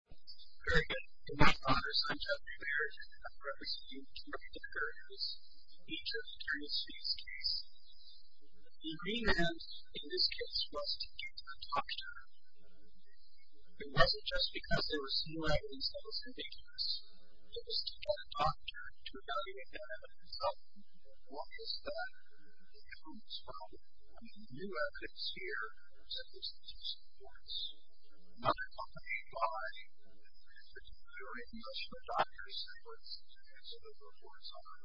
Very good. In my honors, I'm Geoffrey Barrett. I'm representing George Decker in this feature of Eternity's Case. The agreement in this case was to get a doctor. It wasn't just because there was new evidence that was ambiguous. It was to get a doctor to evaluate that evidence. One is that the evidence from the new evidence here was that there was an abuse of force. Another company by a particular industrial doctor said what the reports are.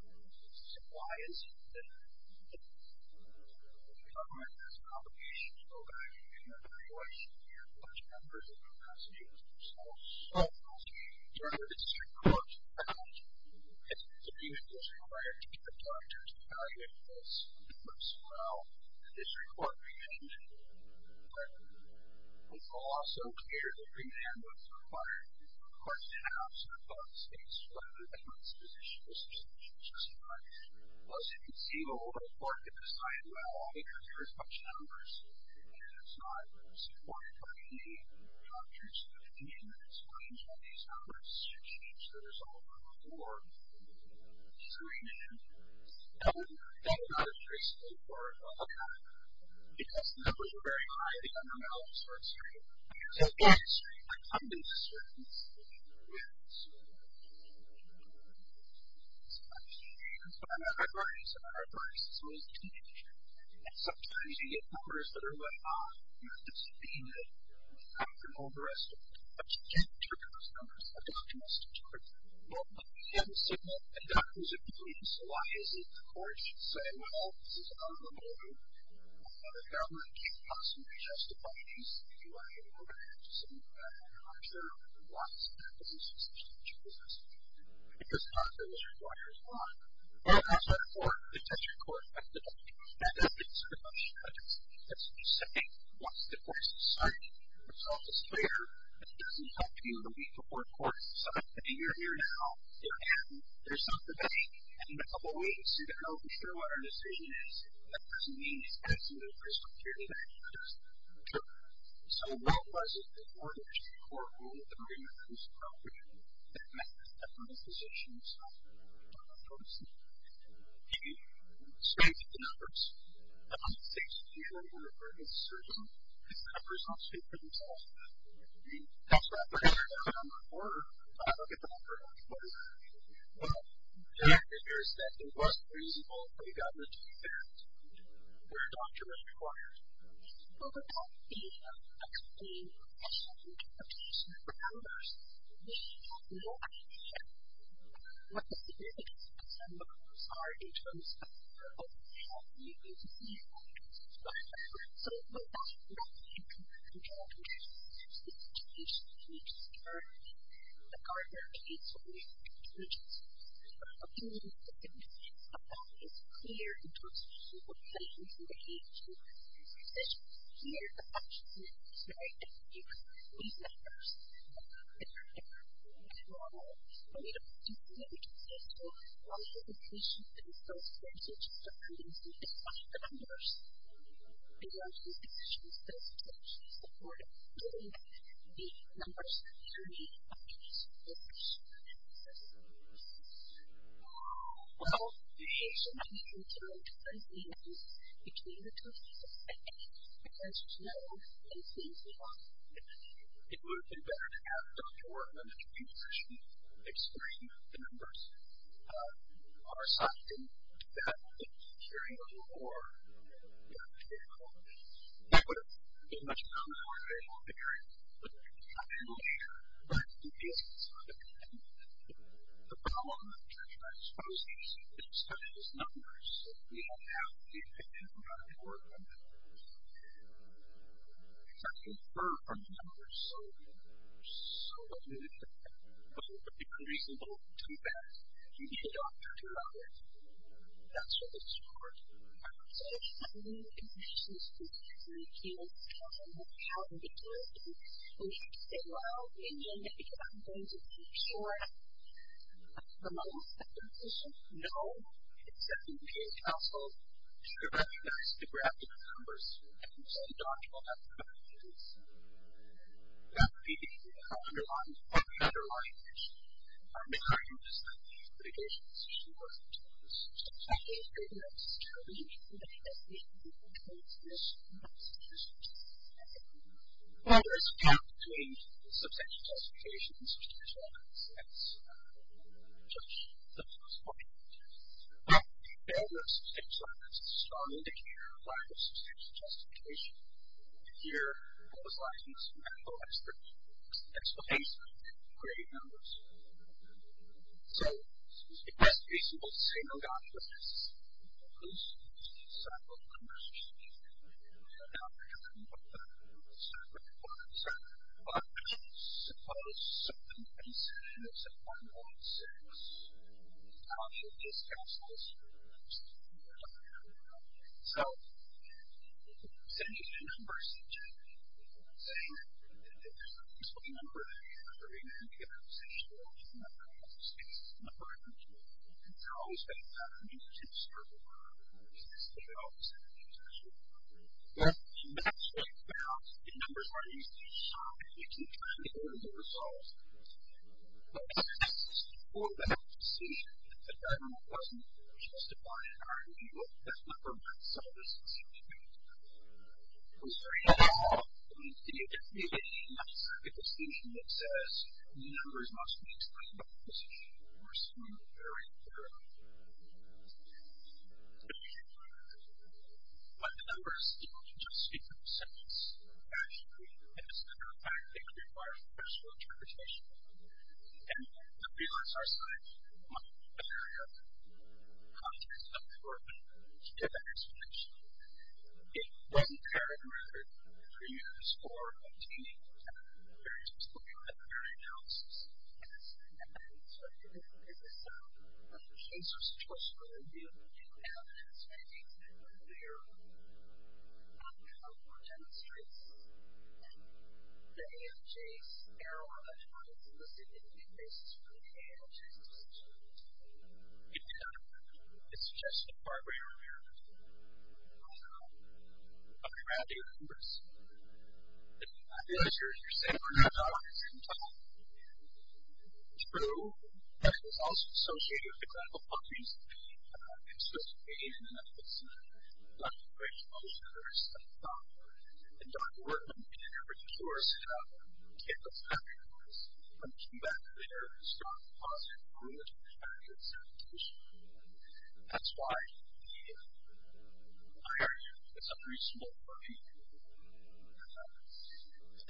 So why is it that the government has an obligation to go back and evaluate large numbers of passengers themselves? Well, during the district court, an abuse was required to get a doctor to evaluate those reports. Well, the district court rejected it. Well, it's also clear that remand was required. It was required to have some public space for the defense's position. This was not justified. Well, as you can see, the local court did decide, well, I don't care as much numbers. It was not supported by the doctor's position. It explains why these numbers should change. So there's a little more discretion. That was not a district court outcome. Because the numbers were very high, the NML was not straight. It was a black-stripe. A black-stripe. It was a black-stripe. It was a black-stripe. It was a black-stripe. And sometimes you get numbers that are way off. You have to subpoena it. You have to hold the rest of it. But you can't interpret those numbers. The doctor must interpret them. Well, but we have a signal. The doctor's opinion. So why is it the court should say, well, this is an unlawful motive? Well, the government can't possibly justify this. If you want to get an order, you have to say, well, I don't care. Why is it that the district court should do this? Because nothing was required as well. Well, as I report, the district court, I think that that's a good question. I think that's what you're saying. Once the court is decided, it's also clear that it doesn't help you to meet the court court. So, if you're here now, you're happy. There's no debate. And in a couple of weeks, you can go to the Fairwater decision. That doesn't mean it's absolutely crystal clear that it is. So, what was it that ordered the court to move the NML to subpoena? I'm not a physician myself. I'm not a doctor myself. He spoke to the numbers. I'm a 60-year-old university surgeon. I've got a personal statement to tell. That's why I put it on my order. I don't get the number. I don't know what it is. But the fact of the matter is that it was reasonable for the government to do that where a doctor was required. So, without being a professional interpretation of the numbers, we have no idea what the significance of some of those are in terms of how you get to see it. So, without looking at the documentation, the documentation that we just heard, the guardrails that we just heard, we have no idea what the significance of that is. It's clear in terms of the implications and the age of the physician. It's clear that actually it's very difficult. These numbers, they're not normal. So, we don't know what the significance is. We don't know what the implications are. So, it's very difficult for me to identify the numbers. We don't know what the significance is. So, we're not getting the numbers that we need to find. Well, the age of the patient is very different. It's very different. And so, it's very difficult. It would have been better to have a doctor or a medical technician explain the numbers on our side. They would have been able to do that. They would have been able to carry on the war. They would have been able to carry on the war. That would have been much more common for a medical technician. I'm not sure what the significance of it is. The problem with the transposers, especially those numbers, we don't have the information on the war. It's actually far from the numbers. So, what do we do with that? Well, it would be unreasonable to do that. You need a doctor to run it. That's what it's for. I'm not saying that we need a medical technician. We can't tell them how to do it. We can't say, well, we need a medical technician. We're going to make sure. But for most of the patients, no. Except for the aging households. We're going to ask you guys to grab the numbers and send it on to one of the medical technicians. That would be the underlying issue. I'm not going to discuss these litigations. This is more of a technical issue. I'm not going to go into that specifically. I'm going to go into this more specifically. Well, there is a gap between substantial justification and substantial evidence. That's just the first point. Well, there is substantial evidence. It's a strong indicator of why there's substantial justification. Here, I would like to use some medical experts to explain some of the creative numbers. So, it best be simple. Say, no doctor is a nurse. So, I'm not going to go into that. I'm not going to go into that. But suppose someone's condition is a 1.6. How should this be assessed? So, send me the numbers. Say, there's a number that you have to read in a computer. Say, it's a 1.6. It's an upper-income child. It's always been a 1.6 or lower. It's always been a 1.6 or lower. Well, that's what you found. The numbers are used to show that you can find the original results. But, as an assessment for that decision, the general question is justified in our view. That's not the right solution. I'm sorry. It's a decision that says, numbers must be explained by the physician or someone with their right to know. But the numbers don't just speak for themselves. Actually, it is a matter of fact. It requires personal interpretation. And the freelance R-site might be an area of context up for it to give that explanation. It wasn't carried around for years, or a teaming was done. They were just looking at their analysis. I'm sorry. This is a case of statistical review. Do you have any statistics that are clear on how well it demonstrates that the AMJs now are the ones in the significant cases where the AMJs exist? It's not clear. It's just a far greater area of gravity, of course. I realize you're saying we're not on the same topic. It's true. That is also associated with the clinical findings that we have been soliciting in the medical scene. Dr. Graves published another study, and Dr. Workman and her researchers have taken those factors and come back to their strong positive and positive expectations. That's why the IRF is a very small group.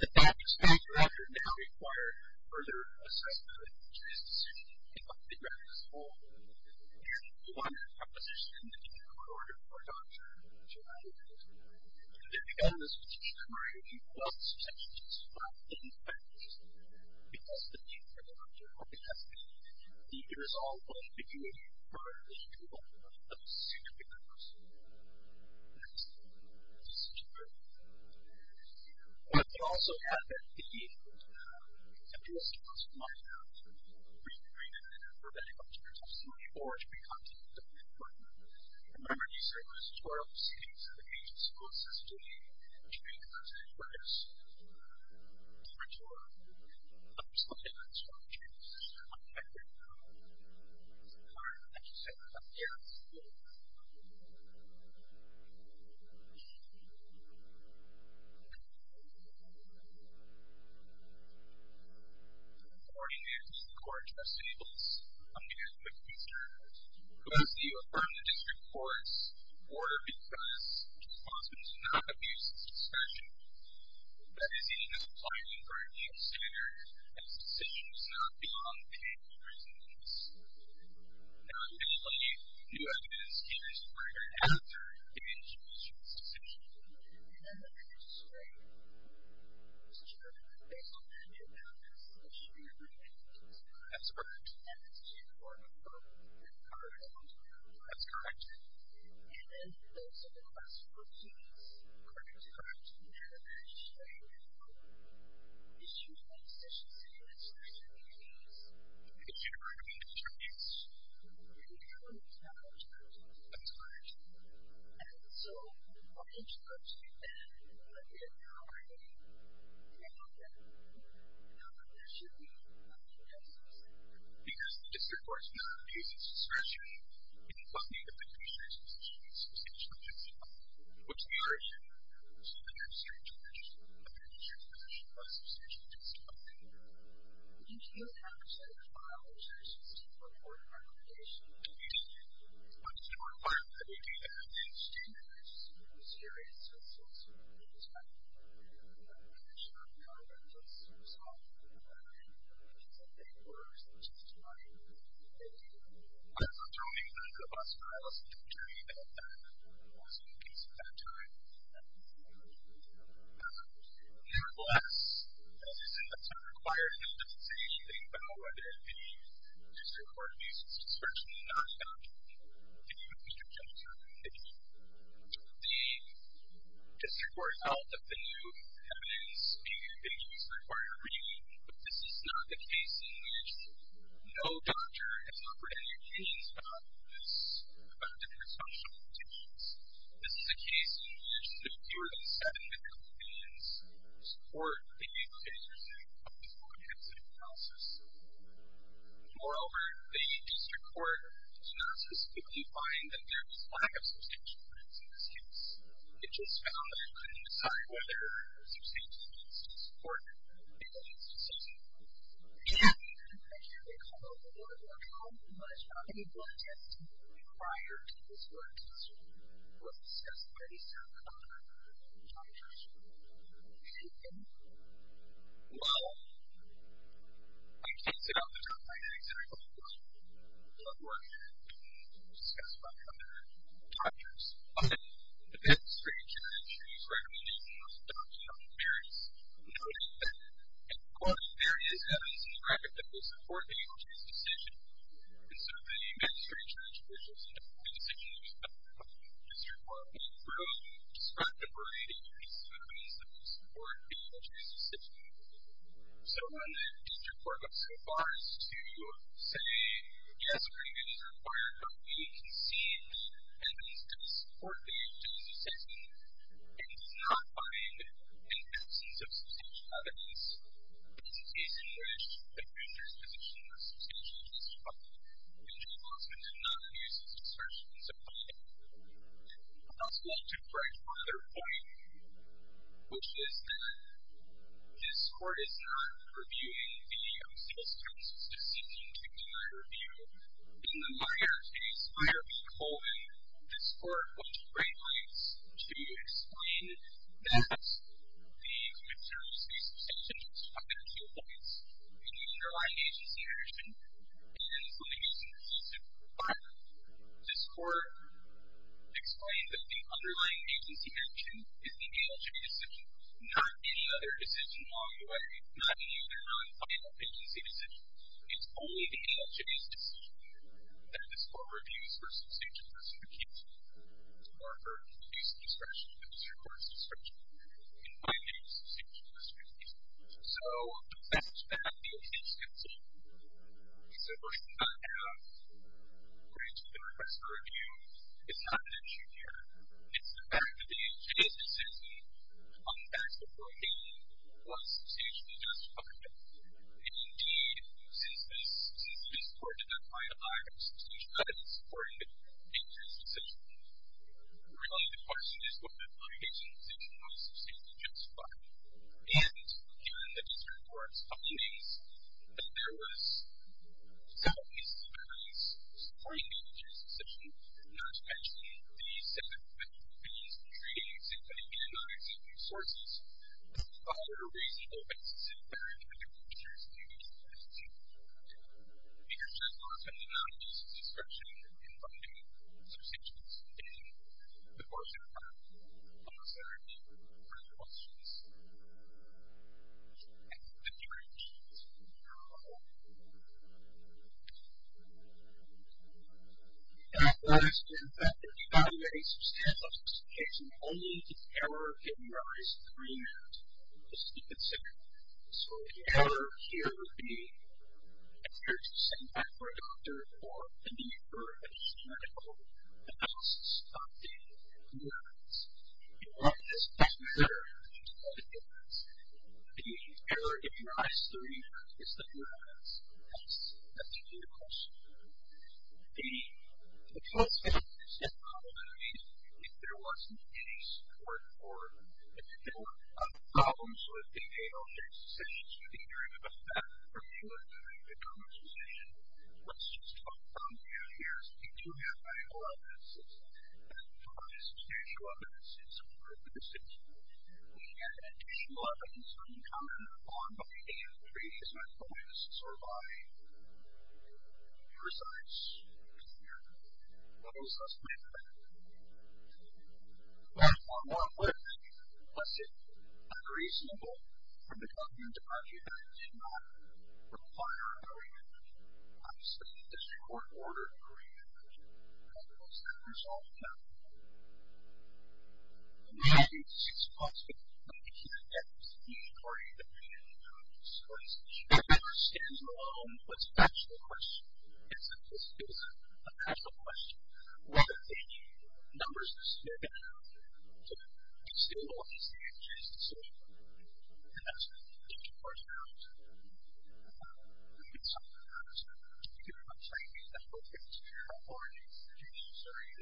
But that expected effort now required further assessment of the statistics. It must be read as a whole. Here's the one proposition in the paper recorded for Dr. Gerardi. The development of the statistical review was essentially just flat in practice because the data that Dr. Gerardi has gained, it is all well and good for the development of a significant number of studies. That is such a good thing. What could also happen, the interest groups might have to be re-trained in a number of different areas of study or to be contacted by Dr. Workman. Remember, you said there's 12 states in the agency. This was a study that was re-considered by Dr. Gerardi. There are some different structures. I think Dr. Gerardi, as you said, is a very good example of that. Accordingly, the court just enables a man, McPherson, who is the affirmative district court's order because his lawsuit does not abuse his discretion. That is, he does not apply to him for a new standard and his decision does not belong to him for any reason other than this. Now, eventually, new evidence can be supported after the individual issues the decision. That's correct. That's correct. That's correct. That's correct. That's correct. Because the district court does not abuse its discretion it does not need a petitioner's decision to substantiate a case at all. What's the other issue? What does it require that we do that? I'm just curious as to what's going on in this matter. I'm not sure how that gets resolved. I was returning back to the bus trials and returning back to the lawsuit case at that time. Nevertheless, as you said, that's not required. It doesn't say anything about whether the district court abuses its discretion or not. The district court, the district court out of the new evidence being abused required a reading, but this is not the case in which no doctor has offered any opinions about this, about the presumption of a petition. This is a case in which there are fewer than seven medical opinions support the use cases of this comprehensive trial system. Moreover, the district court does not specifically find that there is lack of substantial evidence in this case. It just found that it couldn't decide whether substantial evidence is important and whether it needs to substantiate the case. Well, how many blood tests have been required in this work since you were assessed by the state of Colorado in the early 2000s? Anything? Well, I used to sit at the top of my desk and I'd look at blood work and I'd be able to discuss blood work with other doctors. But, it's strange that I choose recommendations that don't have any variance. Notice that, and quote, there is evidence in the record that will support the agency's decision and so the magistrate judge which is the district court will throw disruptive writing pieces of evidence that will support the agency's decision. So when the district court goes so far as to say, yes, agreement is required, but we concede evidence does support the agency's decision and does not find an absence of substantial evidence, this is a case in which the judge's position was substantially disrupted and Judge Osmond did not use his assertion to find evidence. I'd also like to break one other point which is that this court is not reviewing the appeals counsel's decision to deny review. In the Meyer case, Meyer being Holden, to explain that the commissioner's case was substantially disrupted by the two points, the underlying agency action and the misuse of decisive requirement. This court explained that the underlying agency action is the ALJ's decision, not any other decision along the way, not any other non-final agency decision. It's only the ALJ's decision that this court reviews for substantial justification or for abuse of discretion, abuse of court's discretion, in finding a substantial justification. So, the fact that the ALJ's decision is a version not to have granted the request for review is not an issue here. It's the fact that the ALJ's decision on the facts beforehand was substantially justified. And indeed, since this court did not finalize the substitution, that didn't support the ALJ's decision, really the question is whether the ALJ's decision was substantially justified. And, given the district court's findings that there was not a substantial point in the ALJ's decision, not to mention the fact that these treaties including the non-exempting sources follow a reasonable basis in favor of the ALJ's decision. The ALJ's lawsuit did not use the discretion in finding substantial justification before the court answered our questions. Thank you. Thank you very much. Thank you. Thank you. That was the fact that evaluating substantial justification only to the error of giving the ALJ's agreement was to be considered. So, the error here would be an error to send back for a doctor or a neighbor, a medical analyst, updated documents. And, what does that matter? What is the difference? The error in my study is the documents. That's, that's a beautiful story. The, the plus factor is the probability that there wasn't any support for them. If there were problems with the ALJ's decisions with the interim effect, or if you were doing a good conversation, let's just talk from you here, we do have medical evidences that provide substantial evidence in support of the decision. We have additional evidence from the common law that the ALJ is not going to survive. Your science, your theory, what does that matter? One more quick lesson. Unreasonable for the government to argue that it did not require agreement. I've studied the short order agreement and all those numbers all the time. And, you know, it's just possible that we can't get to the story that we need to get to the story. It never stands alone, but it's a natural question. It's a, it's a, a natural question. One of the numbers is still there. So, it's still on the stages of solution. And that's, it's important that we do, that we do something about it. Thank you. I'm sorry. That's all for this year. I apologize if you are still hearing this.